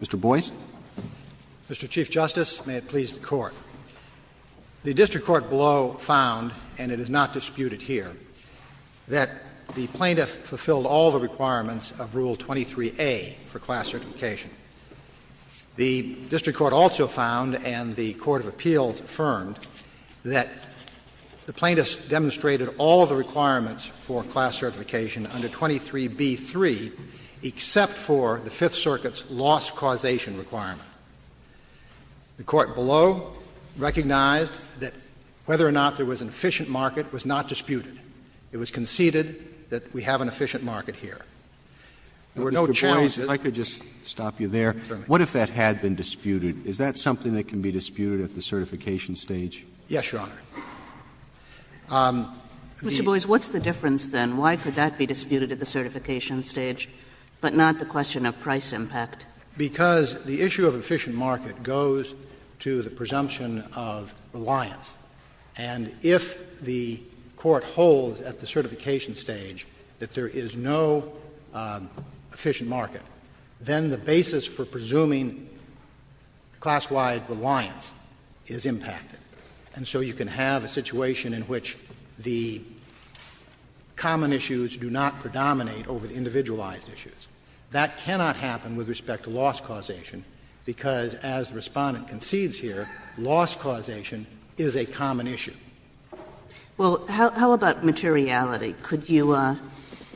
Mr. Boies. Mr. Chief Justice, may it please the Court. The district court below found, and it is not disputed here, that the plaintiff fulfilled all the requirements of Rule 23a for class certification. The district court also found, and the court of appeals affirmed, that the plaintiff demonstrated all the requirements for class certification under 23b-3, except for the Fifth Circuit's loss causation requirement. The court below recognized that whether or not there was an efficient market was not disputed. It was conceded that we have an efficient market here. There were no challenges. Mr. Boies, if I could just stop you there. Certainly. What if that had been disputed? Is that something that can be disputed at the certification stage? Yes, Your Honor. Mr. Boies, what's the difference, then? Why could that be disputed at the certification stage, but not the question of price impact? Because the issue of efficient market goes to the presumption of reliance. And if the Court holds at the certification stage that there is no efficient market, then the basis for presuming class-wide reliance is impacted. And so you can have a situation in which the common issues do not predominate over the individualized issues. That cannot happen with respect to loss causation, because as the Respondent concedes here, loss causation is a common issue. Well, how about materiality? Could you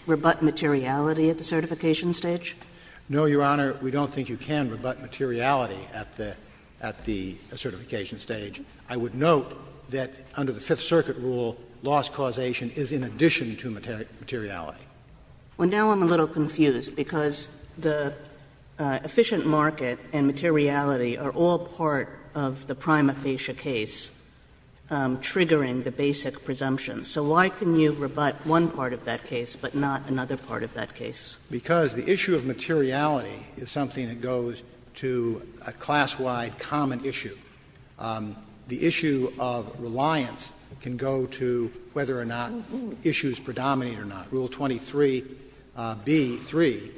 rebut materiality at the certification stage? No, Your Honor. We don't think you can rebut materiality at the certification stage. I would note that under the Fifth Circuit rule, loss causation is in addition to materiality. Well, now I'm a little confused, because the efficient market and materiality are all part of the prima facie case triggering the basic presumption. So why can you rebut one part of that case but not another part of that case? Because the issue of materiality is something that goes to a class-wide common issue. The issue of reliance can go to whether or not issues predominate or not. Rule 23b-3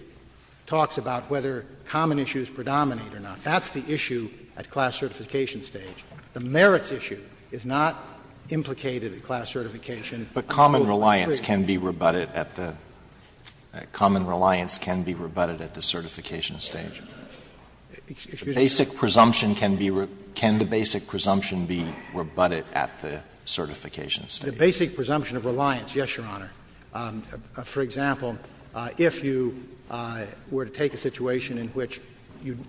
talks about whether common issues predominate or not. That's the issue at class certification stage. The merits issue is not implicated at class certification. But common reliance can be rebutted at the certification stage. Excuse me? Can the basic presumption be rebutted at the certification stage? The basic presumption of reliance, yes, Your Honor. For example, if you were to take a situation in which you —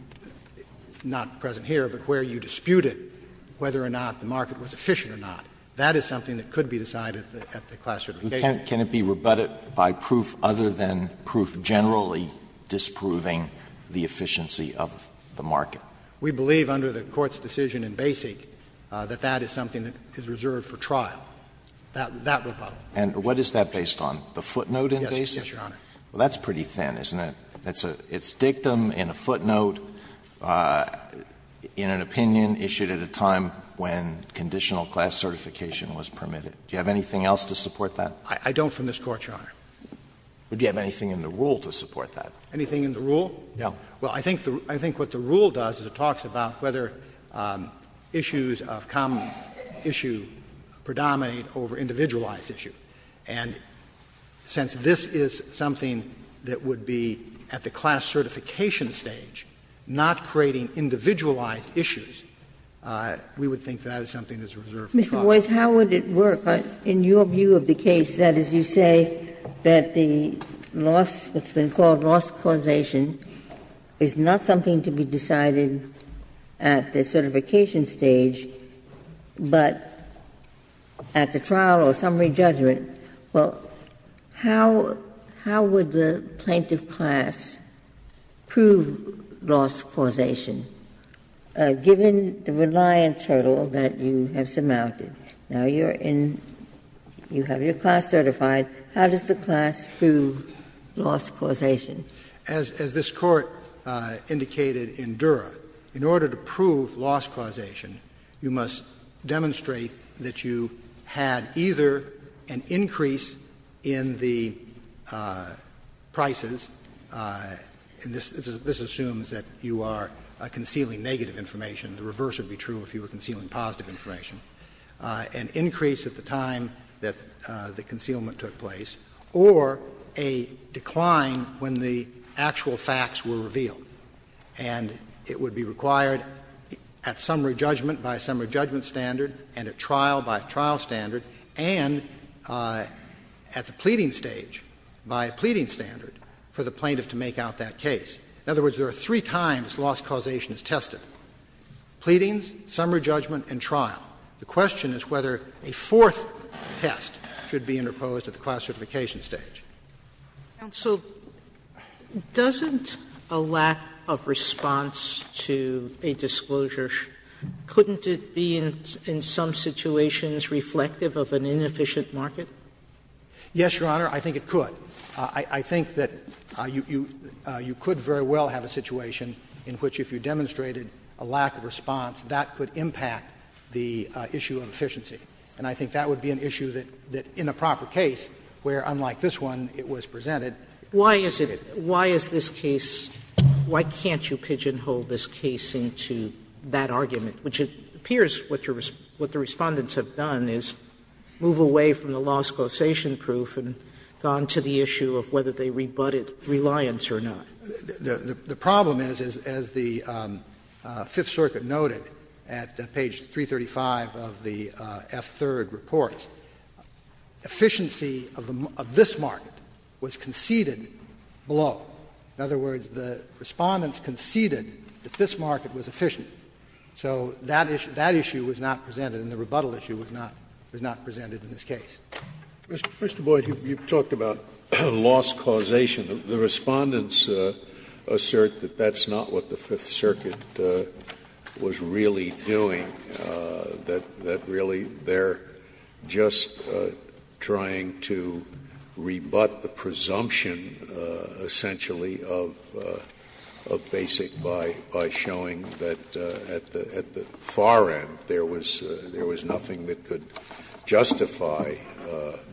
not present here, but where you disputed whether or not the market was efficient or not, that is something that could be decided at the class certification. Can it be rebutted by proof other than proof generally disproving the efficiency of the market? We believe under the Court's decision in Basic that that is something that is reserved for trial, that rebut. And what is that based on, the footnote in Basic? Yes, Your Honor. Well, that's pretty thin, isn't it? It's dictum in a footnote in an opinion issued at a time when conditional class certification was permitted. Do you have anything else to support that? I don't from this Court, Your Honor. Do you have anything in the rule to support that? Anything in the rule? No. Well, I think what the rule does is it talks about whether issues of common issue predominate over individualized issue. And since this is something that would be at the class certification stage, not creating individualized issues, we would think that is something that is reserved for trial. Mr. Boies, how would it work in your view of the case, that as you say, that the loss that's been called loss causation is not something to be decided at the certification stage, but at the trial or summary judgment? Well, how would the plaintiff class prove loss causation, given the reliance hurdle that you have surmounted? Now, you're in you have your class certified. How does the class prove loss causation? As this Court indicated in Dura, in order to prove loss causation, you must demonstrate that you had either an increase in the prices, and this assumes that you are concealing negative information, the reverse would be true if you were concealing positive information, an increase at the time that the concealment took place, or a decline when the actual facts were revealed. And it would be required at summary judgment by a summary judgment standard and at trial by a trial standard, and at the pleading stage by a pleading standard for the plaintiff to make out that case. In other words, there are three times loss causation is tested, pleadings, summary judgment, and trial. The question is whether a fourth test should be interposed at the class certification stage. Sotomayor, doesn't a lack of response to a disclosure, couldn't it be in some situations reflective of an inefficient market? Yes, Your Honor, I think it could. I think that you could very well have a situation in which, if you demonstrated a lack of response, that could impact the issue of efficiency. And I think that would be an issue that, in a proper case, where unlike this one, it was presented. Sotomayor, why is it why is this case, why can't you pigeonhole this case into that argument, which it appears what the Respondents have done is move away from the loss causation proof and gone to the issue of whether they rebut it, reliance or not. The problem is, as the Fifth Circuit noted at page 335 of the F-3rd reports, efficiency of this market was conceded below. In other words, the Respondents conceded that this market was efficient. So that issue was not presented and the rebuttal issue was not presented in this case. Scalia. Mr. Boyd, you talked about loss causation. The Respondents assert that that's not what the Fifth Circuit was really doing, that really they're just trying to rebut the presumption, essentially, of basic by showing that at the far end there was nothing that could justify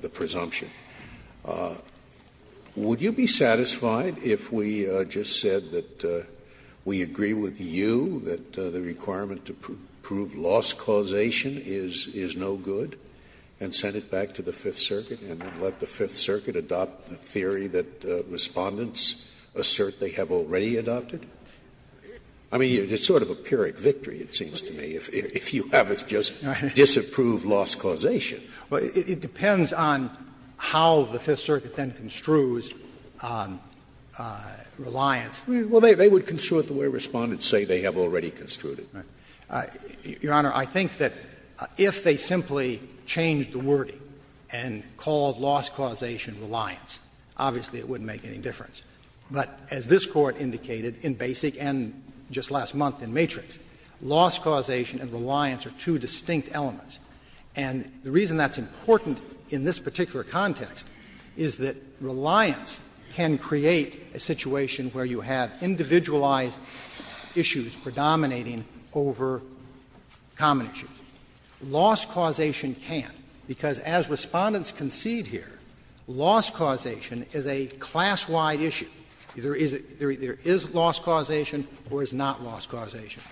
the presumption. Would you be satisfied if we just said that we agree with you that the requirement to prove loss causation is no good and send it back to the Fifth Circuit and then adopt the Fifth Circuit, adopt the theory that Respondents assert they have already adopted? I mean, it's sort of a Pyrrhic victory, it seems to me, if you have us just disapprove loss causation. Boyd. It depends on how the Fifth Circuit then construes reliance. Well, they would construe it the way Respondents say they have already construed it. Your Honor, I think that if they simply changed the wording and called loss causation reliance, obviously it wouldn't make any difference. But as this Court indicated in Basic and just last month in Matrix, loss causation and reliance are two distinct elements. And the reason that's important in this particular context is that reliance can create a situation where you have individualized issues predominating over common issues. Loss causation can't, because as Respondents concede here, loss causation is a class-wide issue. There is loss causation or is not loss causation.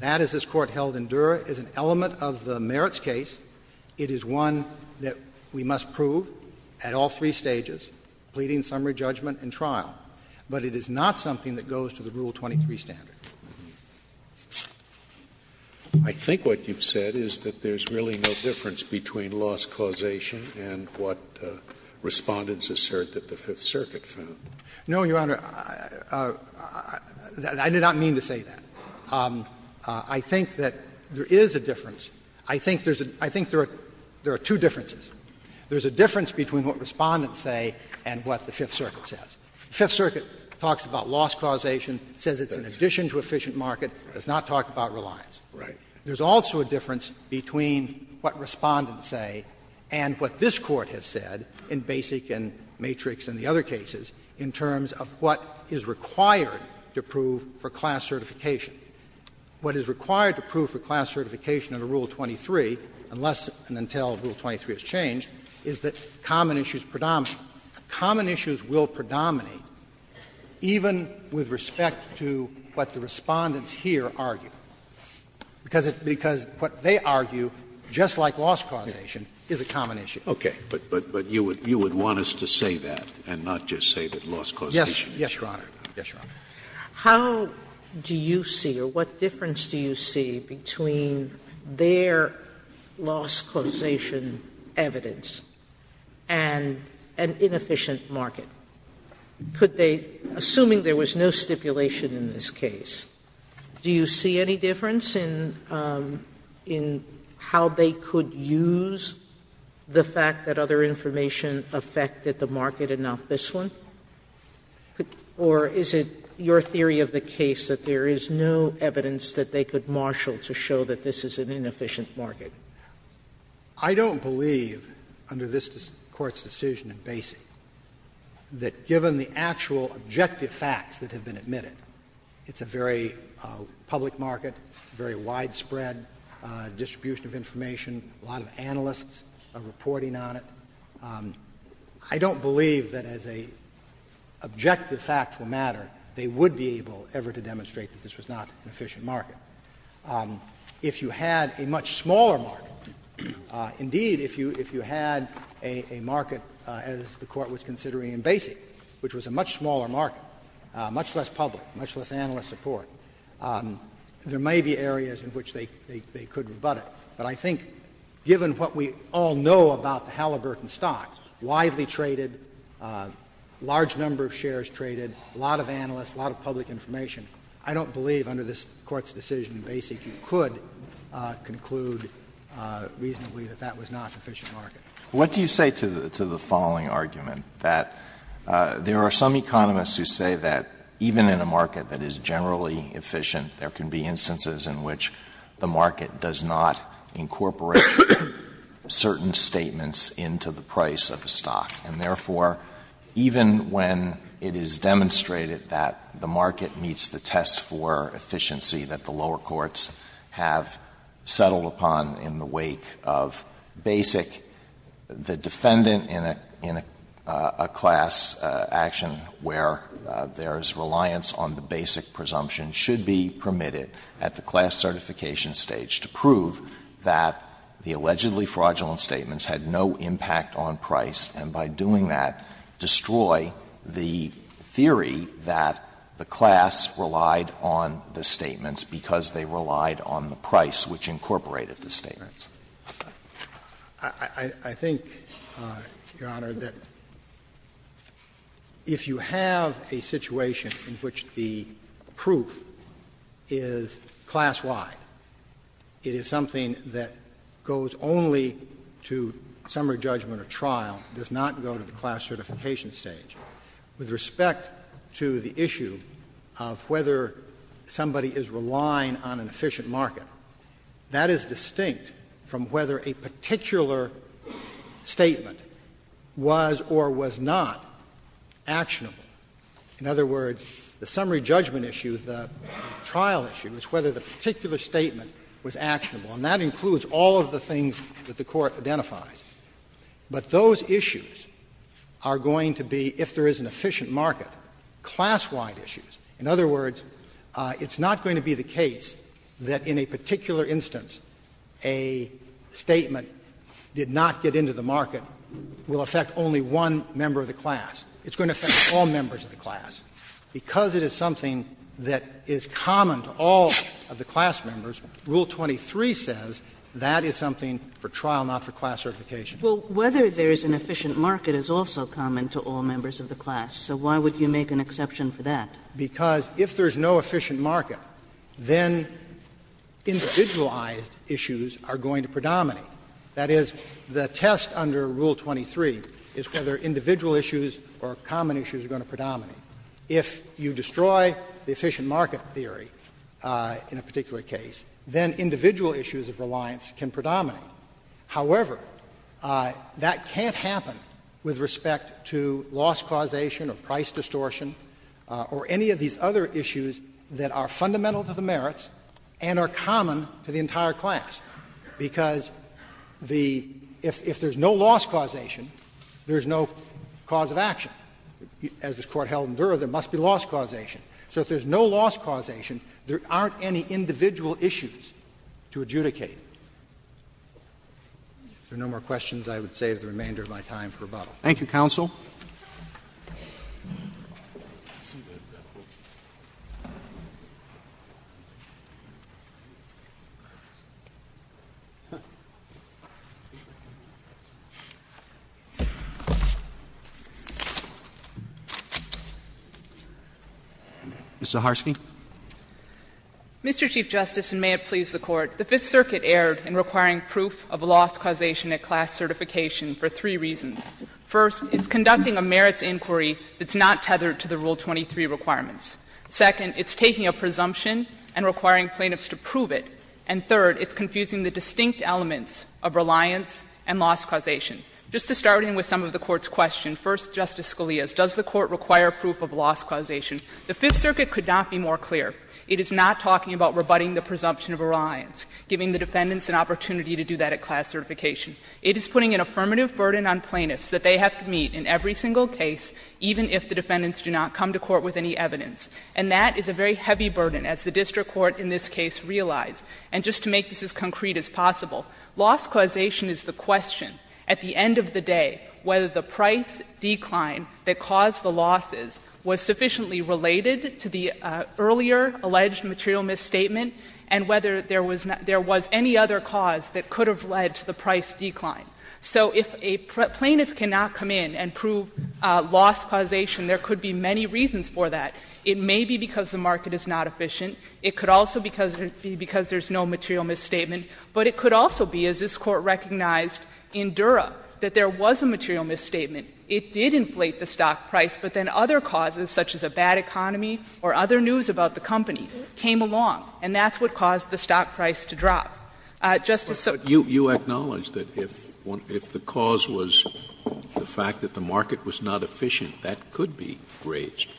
That, as this Court held in Durer, is an element of the merits case. It is one that we must prove at all three stages, pleading, summary, judgment and trial. But it is not something that goes to the Rule 23 standard. Scalia, I think what you've said is that there's really no difference between loss causation and what Respondents assert that the Fifth Circuit found. No, Your Honor, I did not mean to say that. I think that there is a difference. I think there's a — I think there are two differences. There's a difference between what Respondents say and what the Fifth Circuit says. The Fifth Circuit talks about loss causation, says it's in addition to efficient market, does not talk about reliance. There's also a difference between what Respondents say and what this Court has said in Basic and Matrix and the other cases in terms of what is required to prove for class certification. What is required to prove for class certification under Rule 23, unless and until Rule 23 is changed, is that common issues predominate. Common issues will predominate even with respect to what the Respondents here argue. Because it's because what they argue, just like loss causation, is a common issue. Scalia, but you would want us to say that and not just say that loss causation is a common issue. Yes, Your Honor. Yes, Your Honor. Sotomayor, how do you see or what difference do you see between their loss causation evidence and an inefficient market? Could they, assuming there was no stipulation in this case, do you see any difference in how they could use the fact that other information affected the market and not this one? Or is it your theory of the case that there is no evidence that they could marshal to show that this is an inefficient market? I don't believe, under this Court's decision in Basie, that given the actual objective facts that have been admitted, it's a very public market, very widespread distribution of information, a lot of analysts are reporting on it. I don't believe that as a objective factual matter, they would be able ever to demonstrate that this was not an efficient market. If you had a much smaller market, indeed, if you had a market, as the Court was considering in Basie, which was a much smaller market, much less public, much less analyst support, there may be areas in which they could rebut it. But I think given what we all know about the Halliburton stock, widely traded, large number of shares traded, a lot of analysts, a lot of public information, I don't believe under this Court's decision in Basie you could conclude reasonably that that was not an efficient market. Alitoso, what do you say to the following argument, that there are some economists who say that even in a market that is generally efficient, there can be instances in which the market does not incorporate certain statements into the price of a stock, and therefore, even when it is demonstrated that the market meets the test for efficiency that the lower courts have settled upon in the wake of basic, the defendant in a class action where there is reliance on the basic presumption should be permitted at the class certification stage to prove that the allegedly fraudulent statements had no impact on price, and by doing that, destroy the theory that the class relied on the statements because they relied on the price which incorporated the statements. I think, Your Honor, that if you have a situation in which the proof is class-wide, it is something that goes only to summary judgment or trial, does not go to the class certification stage. With respect to the issue of whether somebody is relying on an efficient market, that is distinct from whether a particular statement was or was not actionable. In other words, the summary judgment issue, the trial issue, is whether the particular statement was actionable, and that includes all of the things that the Court identifies. But those issues are going to be, if there is an efficient market, class-wide issues. In other words, it's not going to be the case that in a particular instance a statement did not get into the market will affect only one member of the class. It's going to affect all members of the class. Because it is something that is common to all of the class members, Rule 23 says that is something for trial, not for class certification. Kagan. Well, whether there is an efficient market is also common to all members of the class, so why would you make an exception for that? Because if there is no efficient market, then individualized issues are going to predominate. That is, the test under Rule 23 is whether individual issues or common issues are going to predominate. If you destroy the efficient market theory in a particular case, then individual issues of reliance can predominate. However, that can't happen with respect to loss causation or price distortion or any of these other issues that are fundamental to the merits and are common to the If there is no loss causation, there is no cause of action. As this Court held in Durer, there must be loss causation. So if there is no loss causation, there aren't any individual issues to adjudicate. If there are no more questions, I would save the remainder of my time for rebuttal. Roberts. Thank you, counsel. Ms. Zaharsky. Mr. Chief Justice, and may it please the Court, the Fifth Circuit erred in requiring proof of loss causation at class certification for three reasons. First, it's conducting a merits inquiry that's not tethered to the Rule 23 requirements. Second, it's taking a presumption and requiring plaintiffs to prove it. And third, it's confusing the distinct elements of reliance and loss causation. Just to start in with some of the Court's questions, first, Justice Scalia's, does the Court require proof of loss causation? The Fifth Circuit could not be more clear. It is not talking about rebutting the presumption of reliance, giving the defendants an opportunity to do that at class certification. It is putting an affirmative burden on plaintiffs that they have to meet in every single case, even if the defendants do not come to court with any evidence. And that is a very heavy burden, as the district court in this case realized. And just to make this as concrete as possible, loss causation is the question at the end of the day whether the price decline that caused the losses was sufficiently related to the earlier alleged material misstatement and whether there was any other cause that could have led to the price decline. So if a plaintiff cannot come in and prove loss causation, there could be many reasons for that. It may be because the market is not efficient. It could also be because there is no material misstatement. But it could also be, as this Court recognized in Dura, that there was a material misstatement. It did inflate the stock price, but then other causes, such as a bad economy or other news about the company, came along, and that's what caused the stock price to drop. Justice Sotomayor. Scalia, you acknowledged that if the cause was the fact that the market was not efficient, that could be breached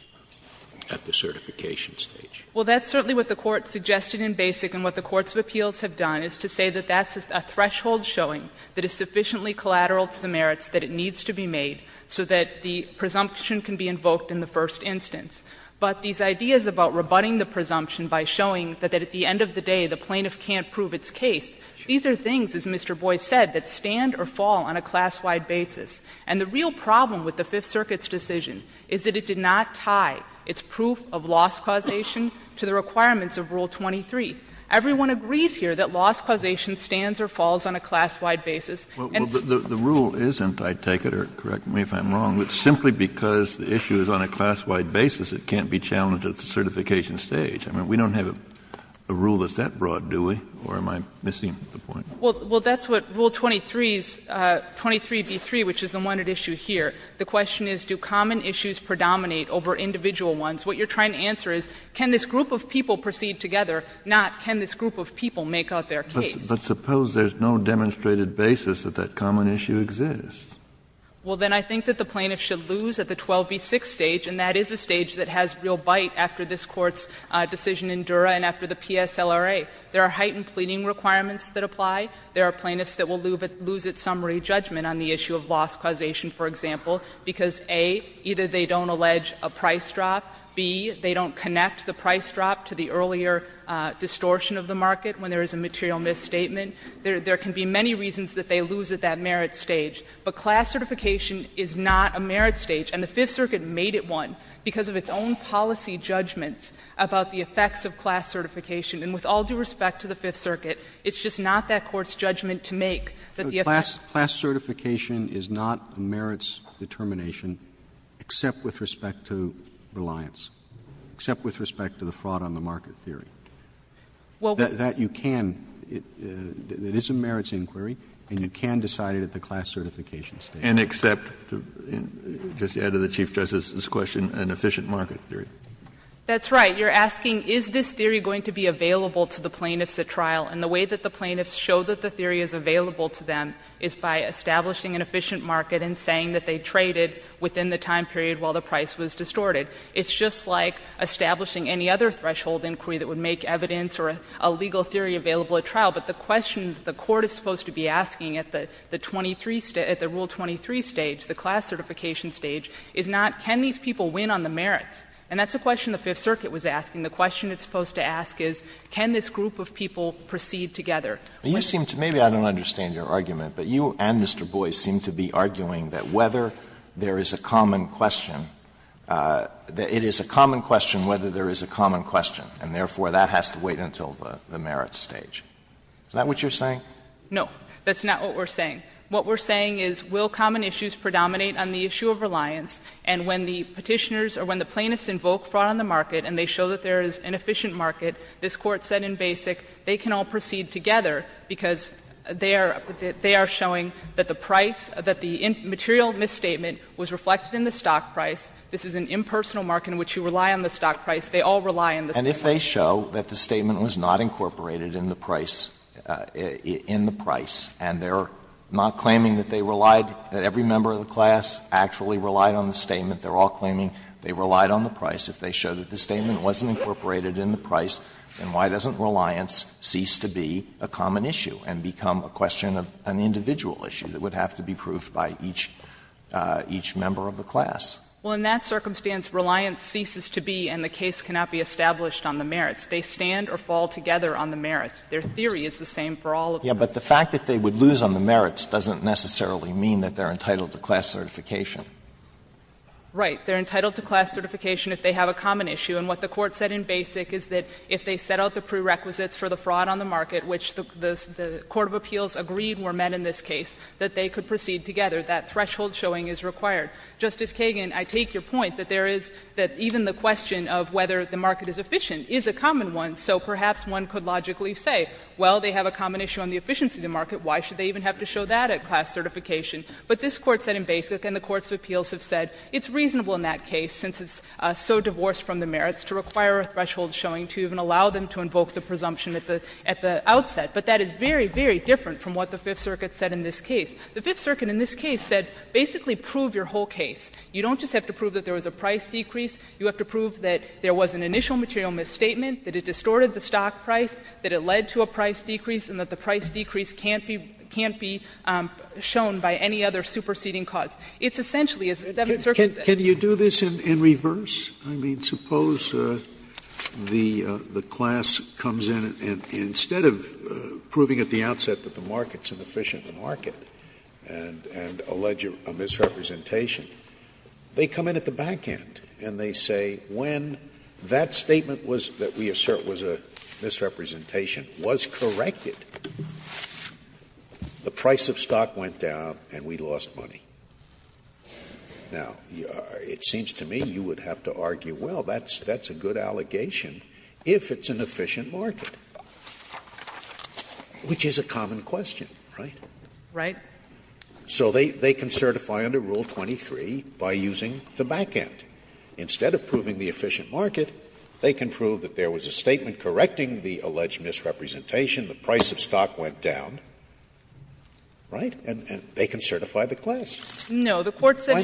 at the certification stage. Well, that's certainly what the Court suggested in Basic and what the courts of appeals have done, is to say that that's a threshold showing that is sufficiently collateral to the merits that it needs to be made so that the presumption can be invoked in the first instance. But these ideas about rebutting the presumption by showing that at the end of the day the plaintiff can't prove its case, these are things, as Mr. Boyce said, that stand or fall on a class-wide basis. And the real problem with the Fifth Circuit's decision is that it did not tie its proof of loss causation to the requirements of Rule 23. Everyone agrees here that loss causation stands or falls on a class-wide basis. And the rule isn't, I take it, or correct me if I'm wrong, but simply because the issue is on a class-wide basis, it can't be challenged at the certification stage. I mean, we don't have a rule that's that broad, do we, or am I missing the point? Well, that's what Rule 23 is, 23b3, which is the one at issue here. The question is, do common issues predominate over individual ones? What you're trying to answer is, can this group of people proceed together, not can this group of people make out their case? But suppose there's no demonstrated basis that that common issue exists. Well, then I think that the plaintiff should lose at the 12b6 stage, and that is a stage that has real bite after this Court's decision in Dura and after the PSLRA. There are heightened pleading requirements that apply. There are plaintiffs that will lose its summary judgment on the issue of loss causation, for example, because, A, either they don't allege a price drop, B, they don't connect the price drop to the earlier distortion of the market when there is a material misstatement. There can be many reasons that they lose at that merit stage. But class certification is not a merit stage. And the Fifth Circuit made it one because of its own policy judgments about the effects of class certification. And with all due respect to the Fifth Circuit, it's just not that Court's judgment to make that the effect of class certification is not a merits determination except with respect to reliance, except with respect to the fraud on the market theory. That you can, it is a merits inquiry, and you can decide it at the class certification stage. Kennedy and accept, just to add to the Chief Justice's question, an efficient market theory. That's right. You're asking is this theory going to be available to the plaintiffs at trial. And the way that the plaintiffs show that the theory is available to them is by establishing an efficient market and saying that they traded within the time period while the price was distorted. It's just like establishing any other threshold inquiry that would make evidence or a legal theory available at trial. But the question the Court is supposed to be asking at the 23, at the Rule 23 stage, the class certification stage, is not can these people win on the merits. And that's a question the Fifth Circuit was asking. The question it's supposed to ask is can this group of people proceed together. Alito, maybe I don't understand your argument, but you and Mr. Boies seem to be arguing that whether there is a common question, that it is a common question whether there is a common question, and therefore, that has to wait until the merits stage. Is that what you're saying? No. That's not what we're saying. What we're saying is will common issues predominate on the issue of reliance? And when the Petitioners or when the plaintiffs invoke fraud on the market and they show that there is an efficient market, this Court said in Basic they can all proceed together because they are showing that the price, that the material misstatement was reflected in the stock price, this is an impersonal market in which you rely on the stock price, they all rely on the stock price. And if they show that the statement was not incorporated in the price, in the price, and they're not claiming that they relied, that every member of the class actually relied on the statement, they're all claiming they relied on the price, if they showed that the statement wasn't incorporated in the price, then why doesn't reliance cease to be a common issue and become a question of an individual issue that would have to be proved by each member of the class? Well, in that circumstance, reliance ceases to be and the case cannot be established on the merits. They stand or fall together on the merits. Their theory is the same for all of them. But the fact that they would lose on the merits doesn't necessarily mean that they are entitled to class certification. Right. They are entitled to class certification if they have a common issue. And what the Court said in Basic is that if they set out the prerequisites for the fraud on the market, which the court of appeals agreed were met in this case, that they could proceed together. That threshold showing is required. Justice Kagan, I take your point that there is that even the question of whether the market is efficient is a common one. So perhaps one could logically say, well, they have a common issue on the efficiency of the market, why should they even have to show that at class certification? But this Court said in Basic and the courts of appeals have said it's reasonable in that case, since it's so divorced from the merits, to require a threshold showing to even allow them to invoke the presumption at the outset. But that is very, very different from what the Fifth Circuit said in this case. The Fifth Circuit in this case said basically prove your whole case. You don't just have to prove that there was a price decrease. You have to prove that there was an initial material misstatement, that it distorted the stock price, that it led to a price decrease, and that the price decrease can't be shown by any other superseding cause. It's essentially, as the Seventh Circuit said. Scalia. Can you do this in reverse? I mean, suppose the class comes in and instead of proving at the outset that the market is an efficient market and allege a misrepresentation, they come in at the back end and they say when that statement was, that we assert was a misrepresentation, was corrected, the price of stock went down and we lost money. Now, it seems to me you would have to argue, well, that's a good allegation if it's an efficient market, which is a common question. Right? Right. So they can certify under Rule 23 by using the back end. Instead of proving the efficient market, they can prove that there was a statement correcting the alleged misrepresentation, the price of stock went down, right? And they can certify the class. No. The Court said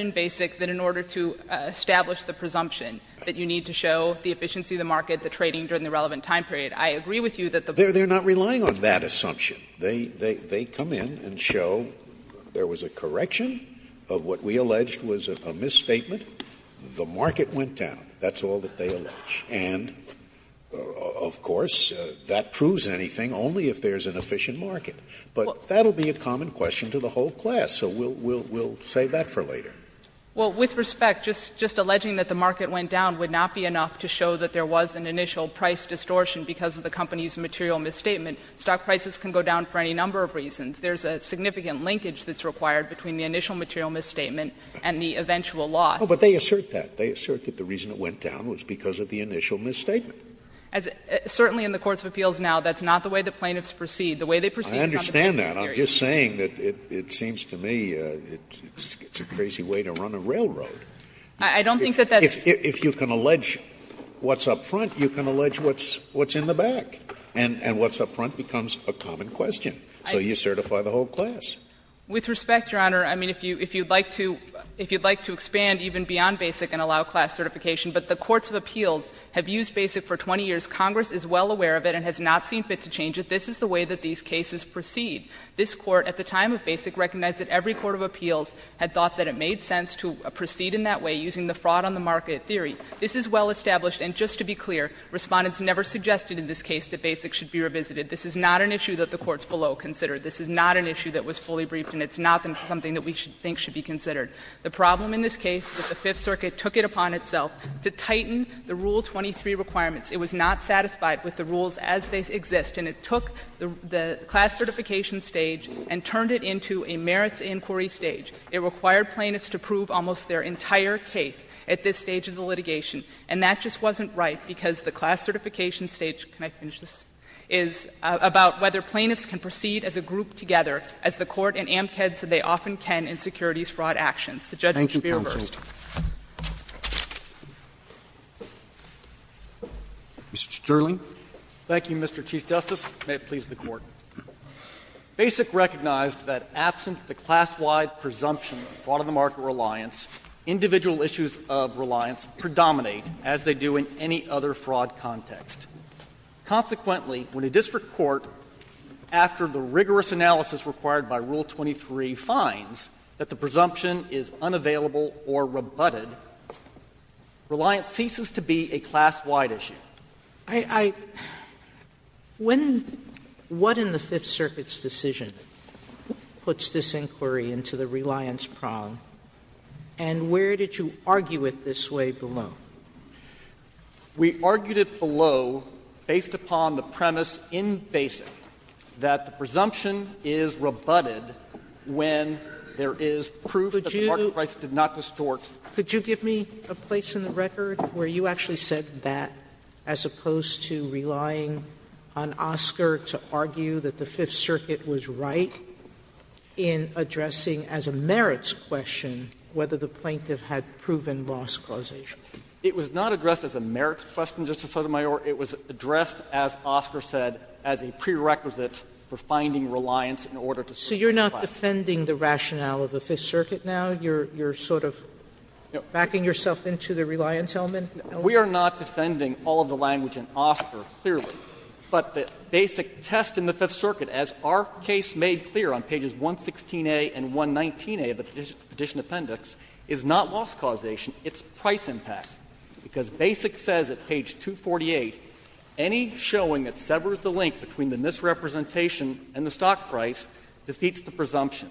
in Basic that in order to establish the presumption that you need to show the efficiency of the market, the trading during the relevant time period, I agree with you that the point is that the market went down. They're not relying on that assumption. They come in and show there was a correction of what we alleged was a misstatement. The market went down. That's all that they allege. And, of course, that proves anything only if there's an efficient market. But that will be a common question to the whole class, so we'll save that for later. Well, with respect, just alleging that the market went down would not be enough to show that there was an initial price distortion because of the company's material misstatement. Stock prices can go down for any number of reasons. There's a significant linkage that's required between the initial material misstatement and the eventual loss. But they assert that. They assert that the reason it went down was because of the initial misstatement. Certainly in the courts of appeals now, that's not the way the plaintiffs proceed. The way they proceed is on the trading period. I understand that. And I'm just saying that it seems to me it's a crazy way to run a railroad. I don't think that that's. If you can allege what's up front, you can allege what's in the back. And what's up front becomes a common question. So you certify the whole class. With respect, Your Honor, I mean, if you'd like to expand even beyond BASIC and allow class certification, but the courts of appeals have used BASIC for 20 years, Congress is well aware of it and has not seen fit to change it, this is the way that these cases proceed. This Court at the time of BASIC recognized that every court of appeals had thought that it made sense to proceed in that way using the fraud-on-the-market theory. This is well established, and just to be clear, Respondents never suggested in this case that BASIC should be revisited. This is not an issue that the courts below considered. This is not an issue that was fully briefed, and it's not something that we think should be considered. The problem in this case is that the Fifth Circuit took it upon itself to tighten the Rule 23 requirements. It was not satisfied with the rules as they exist, and it took the class certification stage and turned it into a merits inquiry stage. It required plaintiffs to prove almost their entire case at this stage of the litigation, and that just wasn't right because the class certification stage — can I finish this? — is about whether plaintiffs can proceed as a group together, as the Court in Amcad said they often can in securities fraud actions. The judge should be reversed. Mr. Sterling. Sterling, thank you, Mr. Chief Justice. May it please the Court. BASIC recognized that absent the class-wide presumption of fraud-on-the-market reliance, individual issues of reliance predominate, as they do in any other fraud context. Consequently, when a district court, after the rigorous analysis required by Rule 23, finds that the presumption is unavailable or rebutted, reliance ceases to be a class-wide Sotomayor, I — when — what in the Fifth Circuit's decision puts this inquiry into the reliance prong, and where did you argue it this way below? We argued it below based upon the premise in BASIC that the presumption is rebutted when there is proof that the market price did not distort. Could you give me a place in the record where you actually said that, as opposed to relying on Oscar to argue that the Fifth Circuit was right in addressing as a merits question whether the plaintiff had proven loss causation? It was not addressed as a merits question, Justice Sotomayor. It was addressed, as Oscar said, as a prerequisite for finding reliance in order to support. Sotomayor, so you're not defending the rationale of the Fifth Circuit now? You're sort of backing yourself into the reliance element? We are not defending all of the language in Oscar, clearly. But the BASIC test in the Fifth Circuit, as our case made clear on pages 116a and 119a of the Petition Appendix, is not loss causation. It's price impact. Because BASIC says at page 248, any showing that severs the link between the misrepresentation and the stock price defeats the presumption.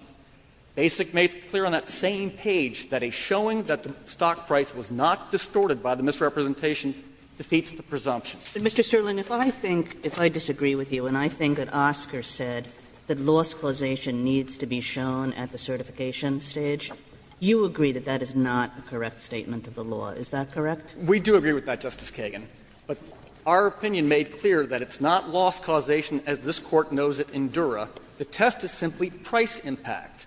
BASIC made clear on that same page that a showing that the stock price was not distorted by the misrepresentation defeats the presumption. Mr. Sterling, if I think, if I disagree with you, and I think that Oscar said that loss causation needs to be shown at the certification stage, you agree that that is not a correct statement of the law. Is that correct? We do agree with that, Justice Kagan. But our opinion made clear that it's not loss causation as this Court knows it in Dura. The test is simply price impact.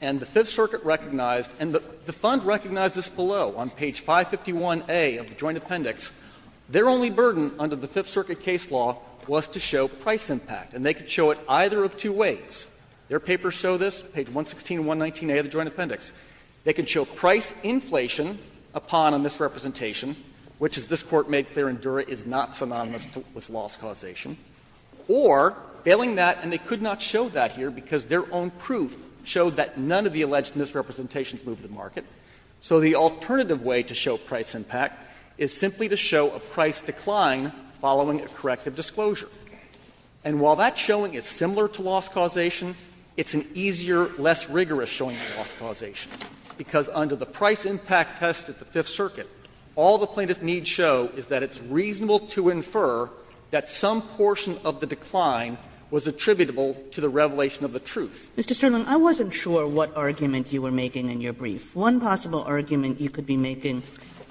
And the Fifth Circuit recognized, and the Fund recognized this below, on page 551a of the Joint Appendix, their only burden under the Fifth Circuit case law was to show price impact. And they could show it either of two ways. Their papers show this, page 116 and 119a of the Joint Appendix. They could show price inflation upon a misrepresentation, which as this Court made clear in Dura is not synonymous with loss causation, or, failing that, and they could not show that here because their own proof showed that none of the alleged misrepresentations moved the market, so the alternative way to show price impact is simply to show a price decline following a corrective disclosure. And while that showing is similar to loss causation, it's an easier, less rigorous showing of loss causation, because under the price impact test at the Fifth Circuit, all the plaintiffs need show is that it's reasonable to infer that some portion of the decline was attributable to the revelation of the truth. Kagan, Mr. Sterling, I wasn't sure what argument you were making in your brief. One possible argument you could be making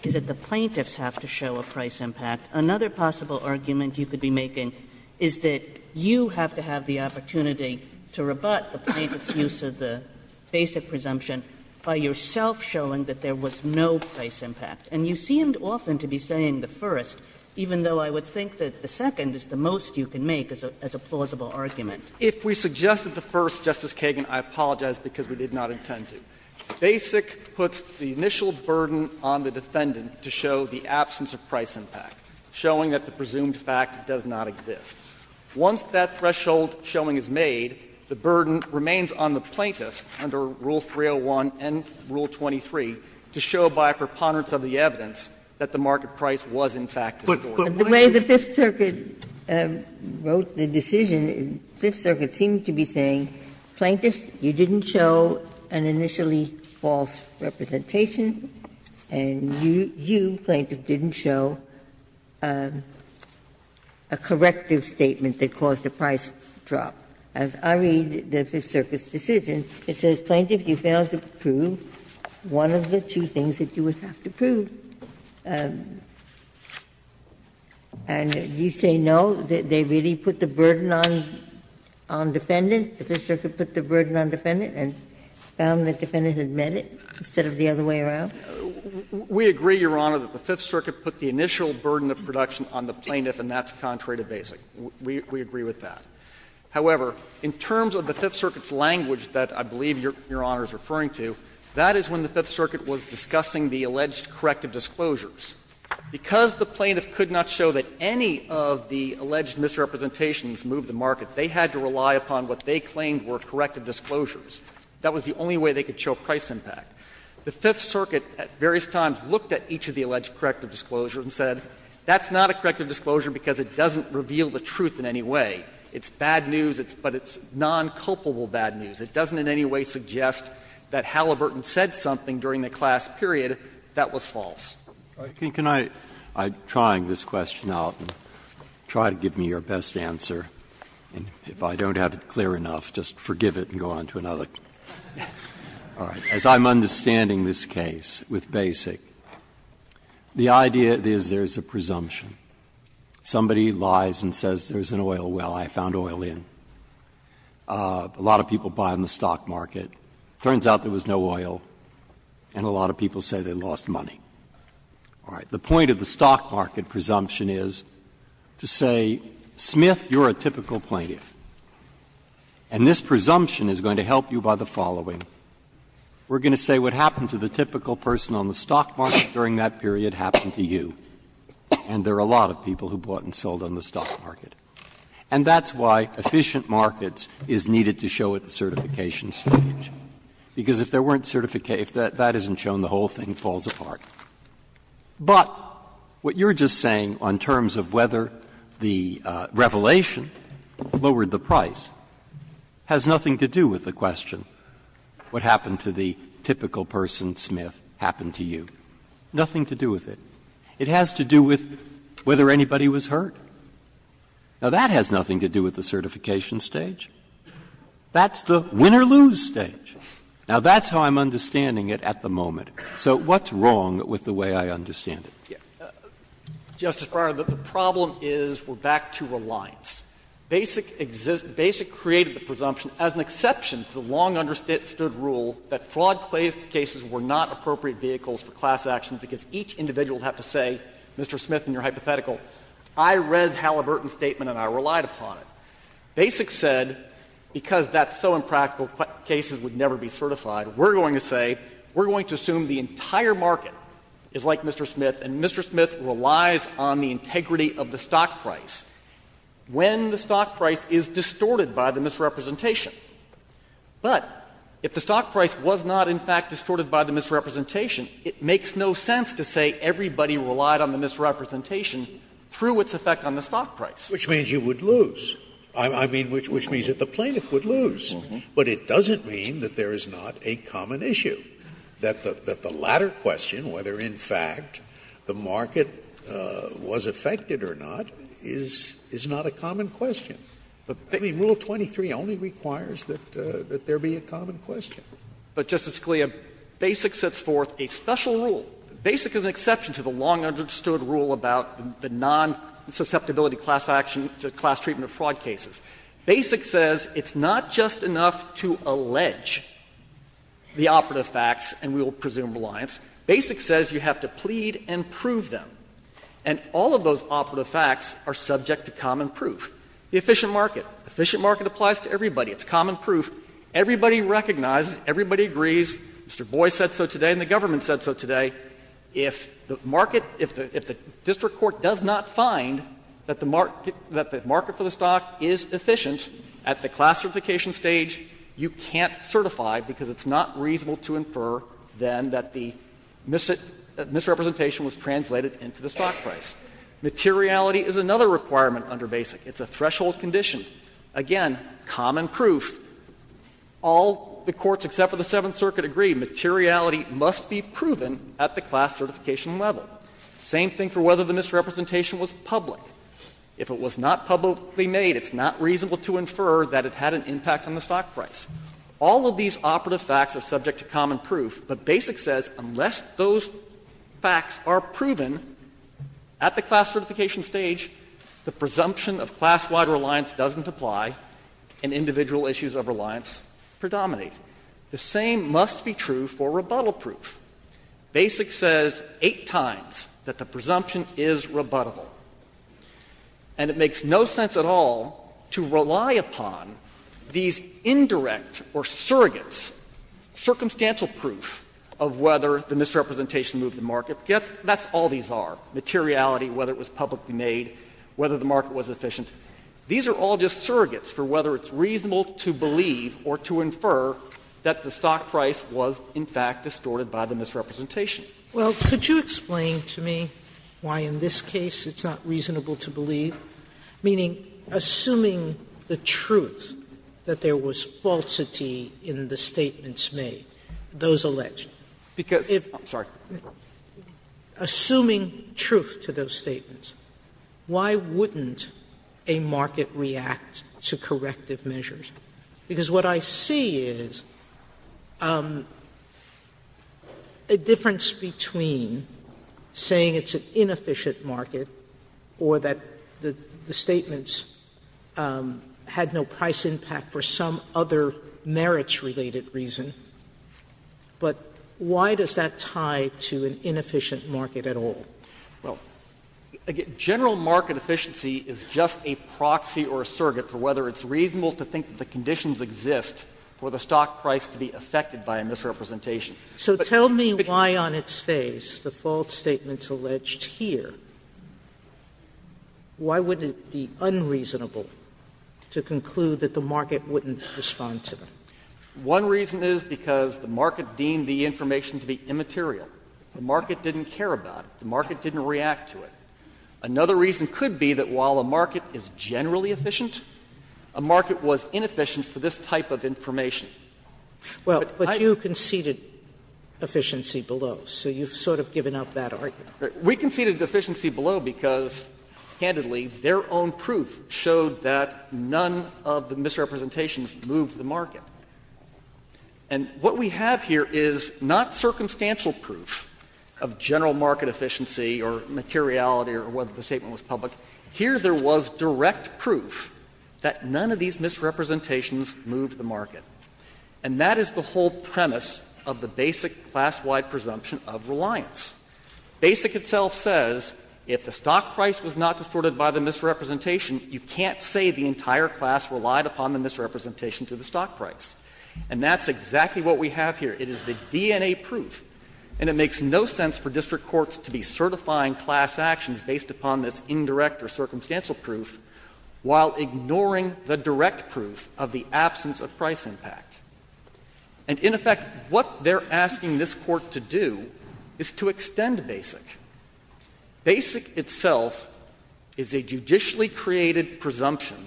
is that the plaintiffs have to show a price impact. Another possible argument you could be making is that you have to have the opportunity to rebut the plaintiff's use of the basic presumption by yourself showing that there was no price impact. And you seemed often to be saying the first, even though I would think that the second is the most you can make as a plausible argument. Sterling, If we suggested the first, Justice Kagan, I apologize because we did not intend to. Basic puts the initial burden on the defendant to show the absence of price impact, showing that the presumed fact does not exist. Once that threshold showing is made, the burden remains on the plaintiff under Rule 301 and Rule 23 to show by a preponderance of the evidence that the market price was, in fact, distorted. The way the Fifth Circuit wrote the decision, the Fifth Circuit seemed to be saying, plaintiffs, you didn't show an initially false representation and you, plaintiff, didn't show a corrective statement that caused the price drop. As I read the Fifth Circuit's decision, it says, plaintiff, you failed to prove one of the two things that you would have to prove. And you say, no, they really put the burden on the defendant, the Fifth Circuit put the burden on the defendant and found the defendant had meant it instead of the other way around? We agree, Your Honor, that the Fifth Circuit put the initial burden of production on the plaintiff, and that's contrary to Basic. We agree with that. However, in terms of the Fifth Circuit's language that I believe Your Honor is referring to, that is when the Fifth Circuit was discussing the alleged corrective disclosures. Because the plaintiff could not show that any of the alleged misrepresentations moved the market, they had to rely upon what they claimed were corrective disclosures. That was the only way they could show price impact. The Fifth Circuit at various times looked at each of the alleged corrective disclosures and said, that's not a corrective disclosure because it doesn't reveal the truth in any way. It's bad news, but it's non-culpable bad news. It doesn't in any way suggest that Halliburton said something during the class period that was false. Breyer, can I, I'm trying this question out, and try to give me your best answer. And if I don't have it clear enough, just forgive it and go on to another. All right. As I'm understanding this case with Basic, the idea is there is a presumption. Somebody lies and says there is an oil well, I found oil in. A lot of people buy in the stock market. It turns out there was no oil, and a lot of people say they lost money. All right. The point of the stock market presumption is to say, Smith, you're a typical plaintiff, and this presumption is going to help you by the following. We're going to say what happened to the typical person on the stock market during that period happened to you. And there are a lot of people who bought and sold on the stock market. And that's why efficient markets is needed to show at the certification stage, because if there weren't certification, if that isn't shown, the whole thing falls apart. But what you're just saying on terms of whether the revelation lowered the price has nothing to do with the question, what happened to the typical person, Smith, happened to you. Nothing to do with it. It has to do with whether anybody was hurt. Now, that has nothing to do with the certification stage. That's the win or lose stage. Now, that's how I'm understanding it at the moment. So what's wrong with the way I understand it? Smith, Justice Breyer, the problem is we're back to reliance. Basic created the presumption as an exception to the long understood rule that fraud cases were not appropriate vehicles for class actions because each individual would have to say, Mr. Smith, in your hypothetical, I read Halliburton's statement and I relied upon it. Basic said, because that's so impractical, cases would never be certified. We're going to say, we're going to assume the entire market is like Mr. Smith, and Mr. Smith relies on the integrity of the stock price when the stock price is distorted by the misrepresentation. But if the stock price was not, in fact, distorted by the misrepresentation, it makes no sense to say everybody relied on the misrepresentation through its effect on the stock price. Scalia, which means you would lose, I mean, which means that the plaintiff would lose. But it doesn't mean that there is not a common issue, that the latter question, whether in fact the market was affected or not, is not a common question. I mean, Rule 23 only requires that there be a common question. But, Justice Scalia, Basic sets forth a special rule. Basic is an exception to the long-understood rule about the nonsusceptibility class action to class treatment of fraud cases. Basic says it's not just enough to allege the operative facts, and we will presume reliance. Basic says you have to plead and prove them. And all of those operative facts are subject to common proof. The efficient market. Efficient market applies to everybody. It's common proof. Everybody recognizes, everybody agrees. Mr. Boyce said so today and the government said so today. If the market, if the district court does not find that the market, that the market for the stock is efficient at the class certification stage, you can't certify, because it's not reasonable to infer, then, that the misrepresentation was translated into the stock price. Materiality is another requirement under Basic. It's a threshold condition. Again, common proof. All the courts except for the Seventh Circuit agree materiality must be proven at the class certification level. Same thing for whether the misrepresentation was public. If it was not publicly made, it's not reasonable to infer that it had an impact on the stock price. All of these operative facts are subject to common proof, but Basic says unless those facts are proven at the class certification stage, the presumption of class-wide reliance doesn't apply and individual issues of reliance predominate. The same must be true for rebuttal proof. Basic says eight times that the presumption is rebuttable. And it makes no sense at all to rely upon these indirect or surrogates, circumstantial proof of whether the misrepresentation moved the market. That's all these are, materiality, whether it was publicly made, whether the market was efficient, these are all just surrogates for whether it's reasonable to believe or to infer that the stock price was, in fact, distorted by the misrepresentation. Sotomayor, could you explain to me why in this case it's not reasonable to believe? Meaning, assuming the truth that there was falsity in the statements made, those alleged. Because if you're assuming truth to those statements, why wouldn't the misrepresentation make it reasonable to believe that a market reacts to corrective measures? Because what I see is a difference between saying it's an inefficient market or that the statements had no price impact for some other merits-related reason, but why does that tie to an inefficient market at all? Well, general market efficiency is just a proxy or a surrogate for whether it's reasonable to think that the conditions exist for the stock price to be affected by a misrepresentation. So tell me why on its face the false statements alleged here, why would it be unreasonable to conclude that the market wouldn't respond to them? One reason is because the market deemed the information to be immaterial. The market didn't care about it. The market didn't react to it. Another reason could be that while a market is generally efficient, a market was inefficient for this type of information. Well, but you conceded efficiency below, so you've sort of given up that argument. We conceded efficiency below because, candidly, their own proof showed that none of the misrepresentations moved the market. And what we have here is not circumstantial proof of general market efficiency or materiality or whether the statement was public. Here there was direct proof that none of these misrepresentations moved the market. And that is the whole premise of the basic class-wide presumption of reliance. Basic itself says if the stock price was not distorted by the misrepresentation, you can't say the entire class relied upon the misrepresentation to the stock price. And that's exactly what we have here. It is the DNA proof. And it makes no sense for district courts to be certifying class actions based upon this indirect or circumstantial proof while ignoring the direct proof of the absence of price impact. And, in effect, what they're asking this Court to do is to extend basic. Basic itself is a judicially created presumption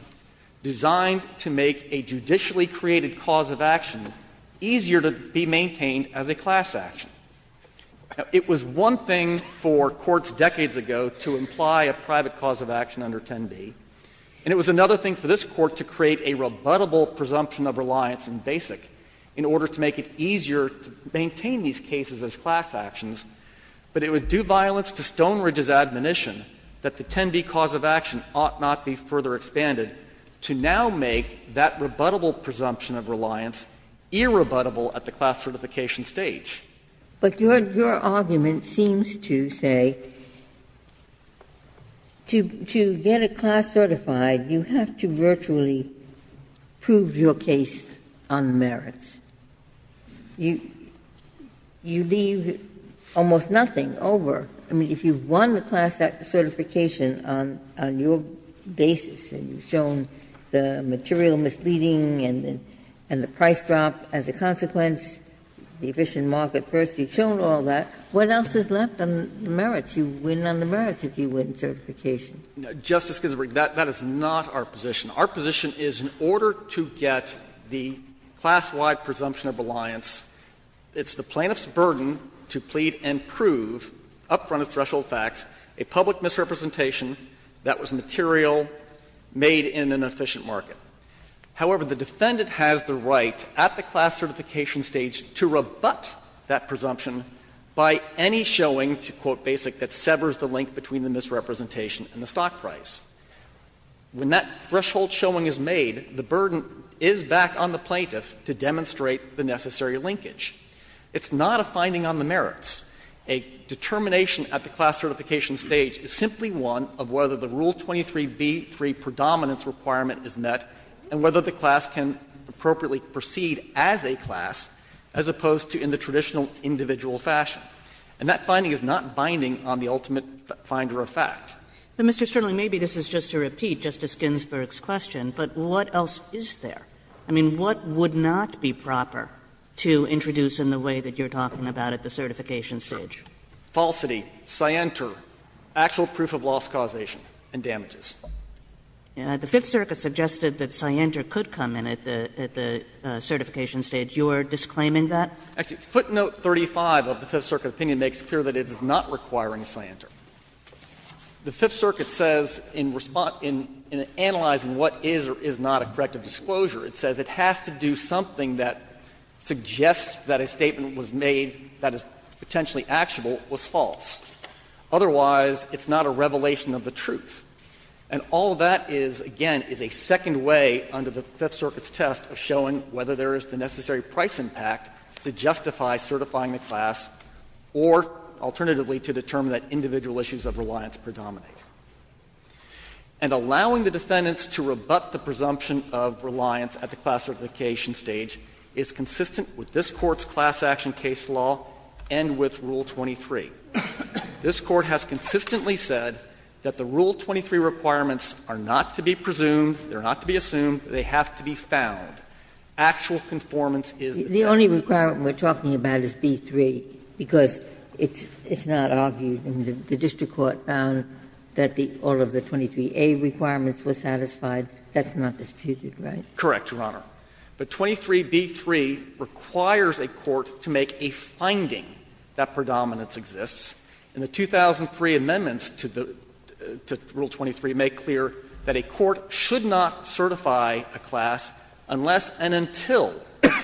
designed to make a judicially created cause of action easier to be maintained as a class action. It was one thing for courts decades ago to imply a private cause of action under 10b, and it was another thing for this Court to create a rebuttable presumption of reliance in basic in order to make it easier to maintain these cases as class actions, but it would do violence to Stonebridge's admonition that the 10b cause of action ought not be further expanded to now make that rebuttable presumption of reliance irrebuttable at the class certification stage. But your argument seems to say, to get a class certified, you have to virtually prove your case on merits. You leave almost nothing over. I mean, if you've won the class certification on your basis and you've shown the material misleading and the price drop as a consequence, the efficient market first, you've shown all that, what else is left on the merits? You win on the merits if you win certification. Justice Ginsburg, that is not our position. Our position is in order to get the class-wide presumption of reliance, it's the plaintiff's burden to plead and prove, up front of threshold facts, a public misrepresentation that was material, made in an efficient market. However, the defendant has the right at the class certification stage to rebut that presumption by any showing, to quote Basic, that severs the link between the misrepresentation and the stock price. When that threshold showing is made, the burden is back on the plaintiff to demonstrate the necessary linkage. It's not a finding on the merits. A determination at the class certification stage is simply one of whether the Rule 23b3 predominance requirement is met and whether the class can appropriately proceed as a class as opposed to in the traditional individual fashion. And that finding is not binding on the ultimate finder of fact. Kagan. Kagan. And Mr. Sternle, maybe this is just to repeat Justice Ginsburg's question, but what else is there? I mean, what would not be proper to introduce in the way that you're talking about at the certification stage? Falsity, scienter, actual proof of loss causation and damages. The Fifth Circuit suggested that scienter could come in at the certification stage. You're disclaiming that? Actually, footnote 35 of the Fifth Circuit opinion makes clear that it is not requiring scienter. The Fifth Circuit says in response to analyzing what is or is not a corrective disclosure, it says it has to do something that suggests that a statement was made that is potentially actual was false. Otherwise, it's not a revelation of the truth. And all that is, again, is a second way under the Fifth Circuit's test of showing whether there is the necessary price impact to justify certifying the class or alternatively to determine that individual issues of reliance predominate. And allowing the defendants to rebut the presumption of reliance at the class certification stage is consistent with this Court's class action case law and with Rule 23. This Court has consistently said that the Rule 23 requirements are not to be presumed, they're not to be assumed, they have to be found. Actual conformance is the test. Ginsburg's only requirement we're talking about is B-3, because it's not argued and the district court found that all of the 23A requirements were satisfied. That's not disputed, right? Correct, Your Honor. But 23B-3 requires a court to make a finding that predominance exists. And the 2003 amendments to Rule 23 make clear that a court should not certify a class unless and until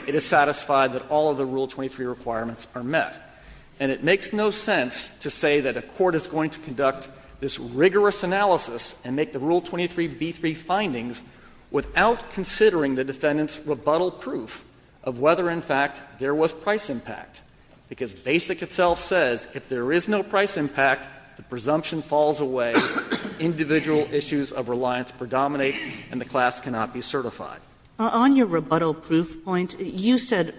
it is satisfied that all of the Rule 23 requirements are met. And it makes no sense to say that a court is going to conduct this rigorous analysis and make the Rule 23 B-3 findings without considering the defendant's rebuttal proof of whether, in fact, there was price impact, because Basic itself says if there is no price impact, the presumption falls away, individual issues of reliance predominate, and the class cannot be certified. Kagan On your rebuttal proof point, you said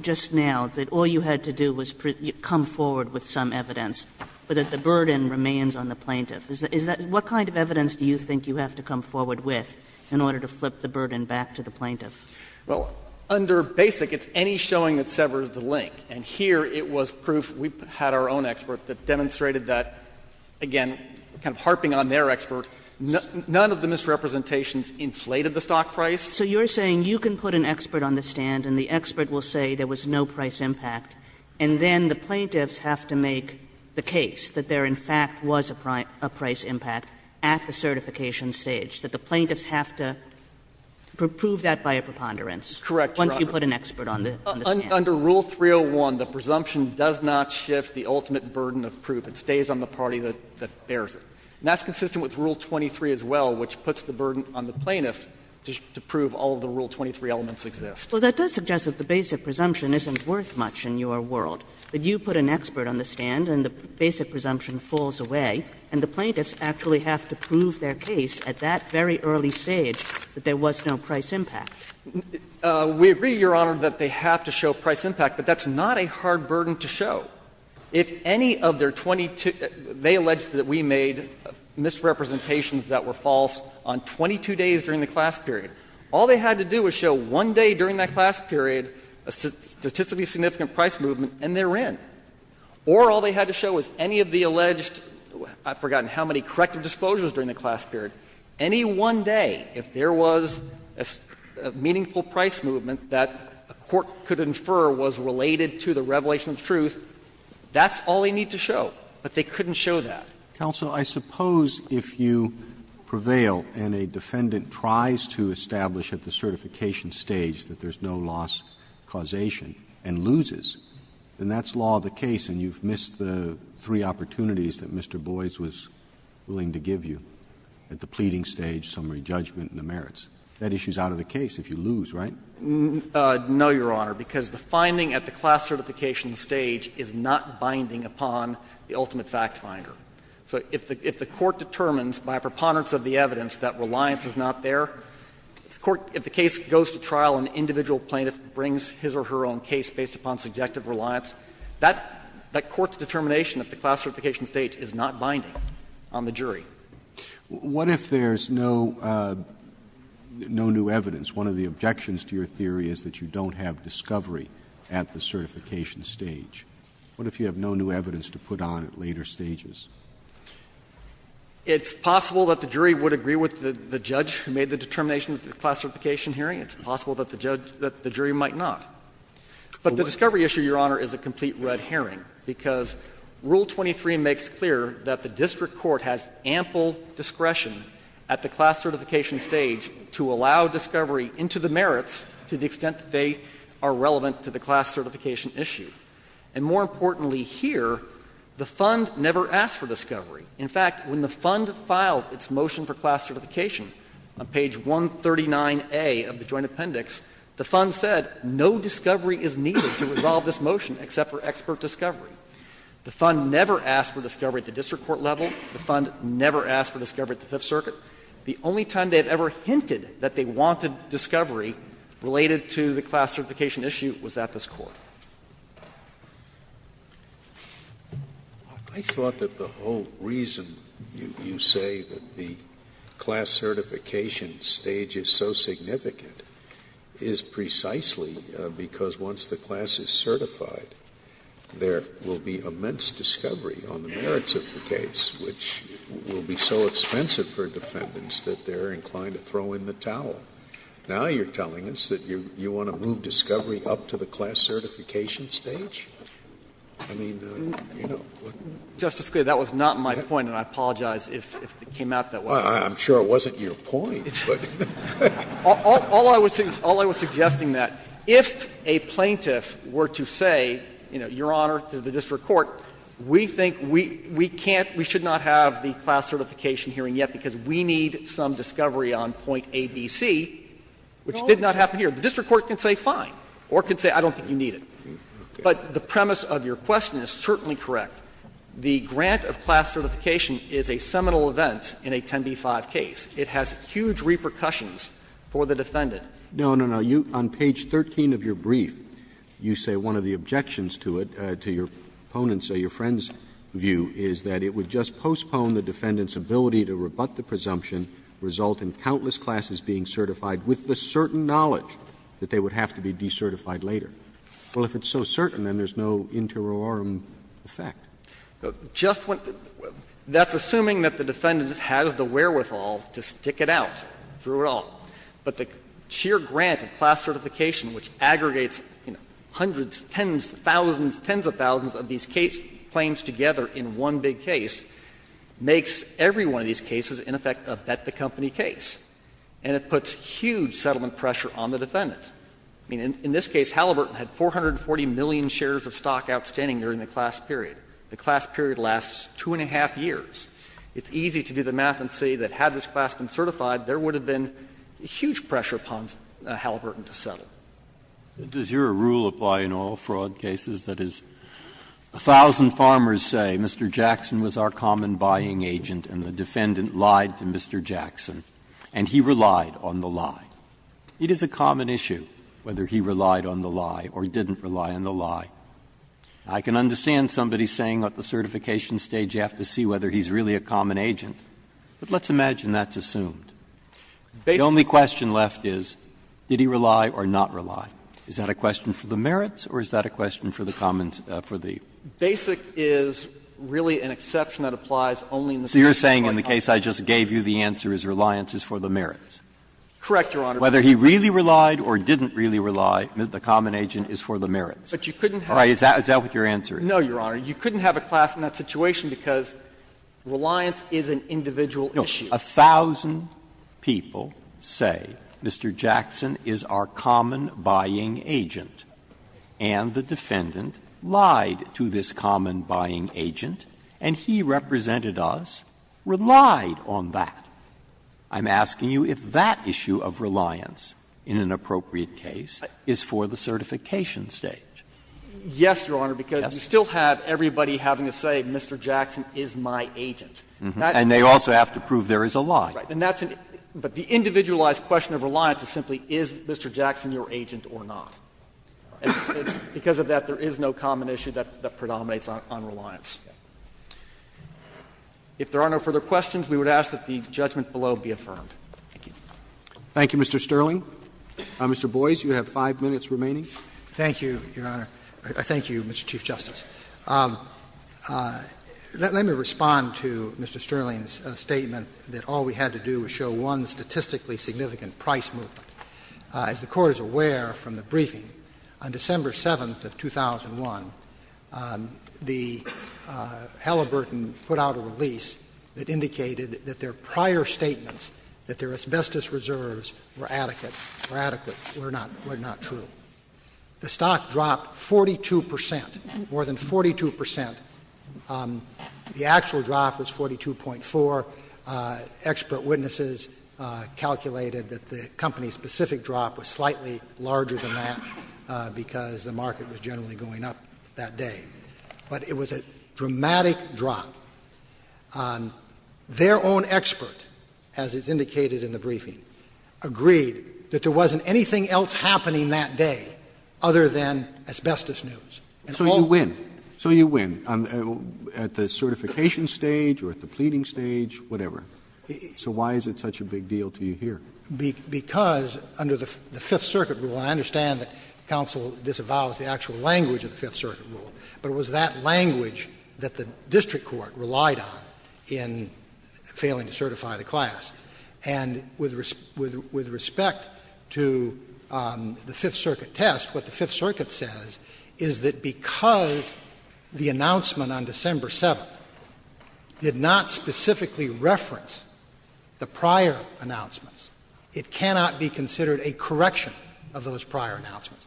just now that all you had to do was come forward with some evidence, but that the burden remains on the plaintiff. Is that what kind of evidence do you think you have to come forward with in order to flip the burden back to the plaintiff? Well, under Basic, it's any showing that severs the link. And here it was proof we had our own expert that demonstrated that, again, kind of inflated the stock price. So you're saying you can put an expert on the stand and the expert will say there was no price impact, and then the plaintiffs have to make the case that there, in fact, was a price impact at the certification stage, that the plaintiffs have to prove that by a preponderance. Correct, Your Honor. Once you put an expert on the stand. Under Rule 301, the presumption does not shift the ultimate burden of proof. It stays on the party that bears it. And that's consistent with Rule 23 as well, which puts the burden on the plaintiff to prove all of the Rule 23 elements exist. Well, that does suggest that the basic presumption isn't worth much in your world. That you put an expert on the stand and the basic presumption falls away, and the plaintiffs actually have to prove their case at that very early stage that there was no price impact. We agree, Your Honor, that they have to show price impact, but that's not a hard burden to show. If any of their 22 they alleged that we made misrepresentations that were false on 22 days during the class period, all they had to do was show one day during that class period a statistically significant price movement, and they're in. Or all they had to show was any of the alleged, I've forgotten how many, corrective disclosures during the class period. Any one day, if there was a meaningful price movement that a court could infer was related to the revelation of the truth, that's all they need to show. But they couldn't show that. Roberts, I suppose if you prevail and a defendant tries to establish at the certification stage that there's no loss causation and loses, then that's law of the case and you've missed the three opportunities that Mr. Boies was willing to give you at the pleading stage, summary judgment and the merits. That issue is out of the case if you lose, right? No, Your Honor, because the finding at the class certification stage is not binding upon the ultimate factfinder. So if the court determines by preponderance of the evidence that reliance is not there, if the case goes to trial and an individual plaintiff brings his or her own case based upon subjective reliance, that court's determination at the class certification stage is not binding on the jury. Roberts, what if there's no new evidence? One of the objections to your theory is that you don't have discovery at the certification stage. What if you have no new evidence to put on at later stages? It's possible that the jury would agree with the judge who made the determination at the class certification hearing. It's possible that the jury might not. But the discovery issue, Your Honor, is a complete red herring, because Rule 23 makes clear that the district court has ample discretion at the class certification stage to allow discovery into the merits to the extent that they are relevant to the class certification issue. And more importantly here, the Fund never asked for discovery. In fact, when the Fund filed its motion for class certification on page 139A of the Joint Appendix, the Fund said no discovery is needed to resolve this motion except for expert discovery. The Fund never asked for discovery at the district court level. The Fund never asked for discovery at the Fifth Circuit. The only time they have ever hinted that they wanted discovery related to the class certification issue was at this Court. Scalia, I thought that the whole reason you say that the class certification stage is so significant is precisely because once the class is certified, there will be immense discovery on the merits of the case, which will be so expensive for defendants that they are inclined to throw in the towel. Now you are telling us that you want to move discovery up to the class certification stage? I mean, you know. Justice Scalia, that was not my point, and I apologize if it came out that way. I'm sure it wasn't your point, but. All I was suggesting that if a plaintiff were to say, you know, Your Honor, to the district court, we think we can't, we should not have the class certification hearing yet because we need some discovery on point A, B, C, which did not happen here. The district court can say fine, or can say I don't think you need it. But the premise of your question is certainly correct. The grant of class certification is a seminal event in a 10b-5 case. Roberts, No, no, no. What I'm trying to get at, and I'm trying to get at your opponent's or your friend's view, is that it would just postpone the defendant's ability to rebut the presumption, result in countless classes being certified with the certain knowledge that they would have to be decertified later. Well, if it's so certain, then there's no interiorum effect. Just what the — that's assuming that the defendant has the wherewithal to stick it out through it all. But the sheer grant of class certification, which aggregates hundreds, tens, thousands, tens of thousands of these case claims together in one big case, makes every one of these cases in effect a bet-the-company case. And it puts huge settlement pressure on the defendant. I mean, in this case, Halliburton had 440 million shares of stock outstanding during the class period. The class period lasts two and a half years. It's easy to do the math and say that had this class been certified, there would have been huge pressure upon Halliburton to settle. Breyer. Does your rule apply in all fraud cases? That is, a thousand farmers say Mr. Jackson was our common buying agent and the defendant lied to Mr. Jackson, and he relied on the lie. It is a common issue whether he relied on the lie or didn't rely on the lie. I can understand somebody saying at the certification stage you have to see whether he's really a common agent, but let's imagine that's assumed. The only question left is, did he rely or not rely? Is that a question for the merits or is that a question for the commons, for the merits? Basic is really an exception that applies only in the case of a common agent. So you're saying in the case I just gave you, the answer is reliance is for the merits? Correct, Your Honor. Whether he really relied or didn't really rely, the common agent is for the merits. But you couldn't have a class in that situation because reliance is an individual issue. A thousand people say Mr. Jackson is our common buying agent, and the defendant lied to this common buying agent, and he represented us, relied on that. I'm asking you if that issue of reliance in an appropriate case is for the certification stage. Yes, Your Honor, because you still have everybody having to say Mr. Jackson is my agent. And they also have to prove there is a lie. Right. But the individualized question of reliance is simply, is Mr. Jackson your agent or not? Because of that, there is no common issue that predominates on reliance. If there are no further questions, we would ask that the judgment below be affirmed. Thank you. Thank you, Mr. Sterling. Mr. Boies, you have 5 minutes remaining. Thank you, Your Honor. Thank you, Mr. Chief Justice. Let me respond to Mr. Sterling's statement that all we had to do was show one statistically significant price movement. As the Court is aware from the briefing, on December 7th of 2001, the Halliburton put out a release that indicated that their prior statements that their asbestos reserves were adequate were not true. The stock dropped 42 percent, more than 42 percent. The actual drop was 42.4. Expert witnesses calculated that the company-specific drop was slightly larger than that because the market was generally going up that day. But it was a dramatic drop. Their own expert, as is indicated in the briefing, agreed that there wasn't anything else happening that day other than asbestos news. And all of them. So you win. So you win, at the certification stage or at the pleading stage, whatever. So why is it such a big deal to you here? Because under the Fifth Circuit rule, and I understand that counsel disavows the actual language of the Fifth Circuit rule, but it was that language that the district court relied on in failing to certify the class. And with respect to the Fifth Circuit test, what the Fifth Circuit says is that because the announcement on December 7th did not specifically reference the prior announcements, it cannot be considered a correction of those prior announcements.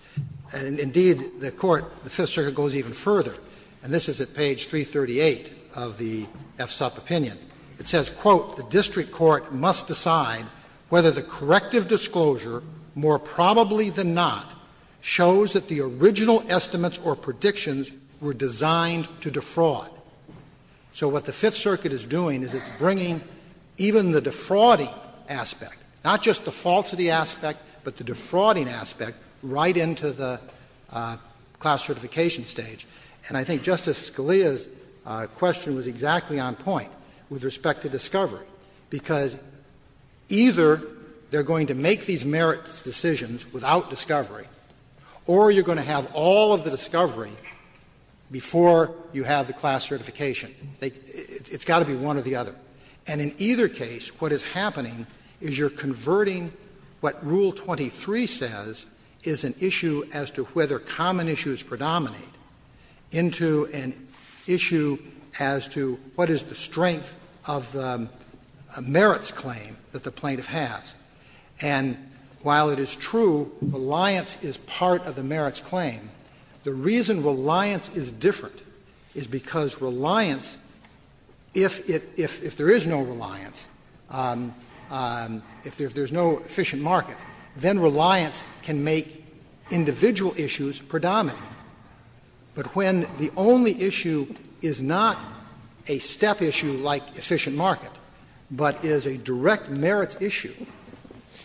And indeed, the court, the Fifth Circuit goes even further, and this is at page 338 of the FSUP opinion. It says, quote, the district court must decide whether the corrective disclosure, more probably than not, shows that the original estimates or predictions were designed to defraud. So what the Fifth Circuit is doing is it's bringing even the defrauding aspect, not just the falsity aspect, but the defrauding aspect, right into the class certification stage. And I think Justice Scalia's question was exactly on point with respect to discovery, because either they're going to make these merits decisions without discovery, or you're going to have all of the discovery before you have the class certification. It's got to be one or the other. And in either case, what is happening is you're converting what Rule 23 says is an issue as to what is the strength of the merits claim that the plaintiff has. And while it is true reliance is part of the merits claim, the reason reliance is different is because reliance, if it — if there is no reliance, if there's no efficient market, then reliance can make individual issues predominant. But when the only issue is not a step issue like efficient market, but is a direct merits issue,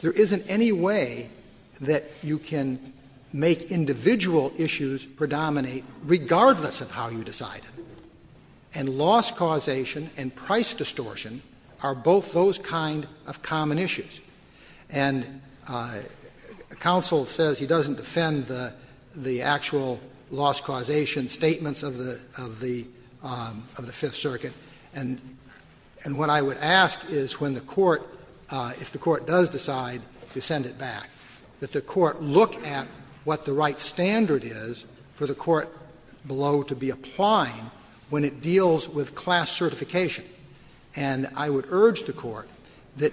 there isn't any way that you can make individual issues predominate regardless of how you decide it. And loss causation and price distortion are both those kind of common issues. And counsel says he doesn't defend the actual loss causation statements of the Fifth Circuit, and what I would ask is when the court — if the court does decide to send it back, that the court look at what the right standard is for the court below to be applying when it deals with class certification. And I would urge the court that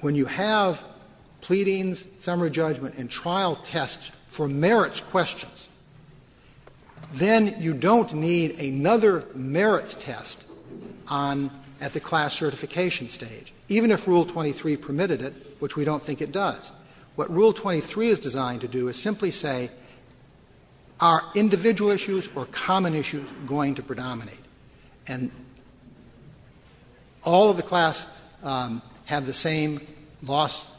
when you have pleadings, summary judgment and trial tests for merits questions, then you don't need another merits test on — at the class certification stage, even if Rule 23 permitted it, which we don't think it does. What Rule 23 is designed to do is simply say, are individual issues or common issues going to predominate? And all of the class have the same loss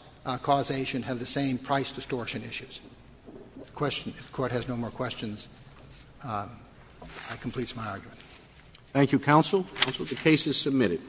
causation, have the same price distortion issues. If the question — if the court has no more questions, that completes my argument. Roberts. Thank you, counsel. Counsel, the case is submitted.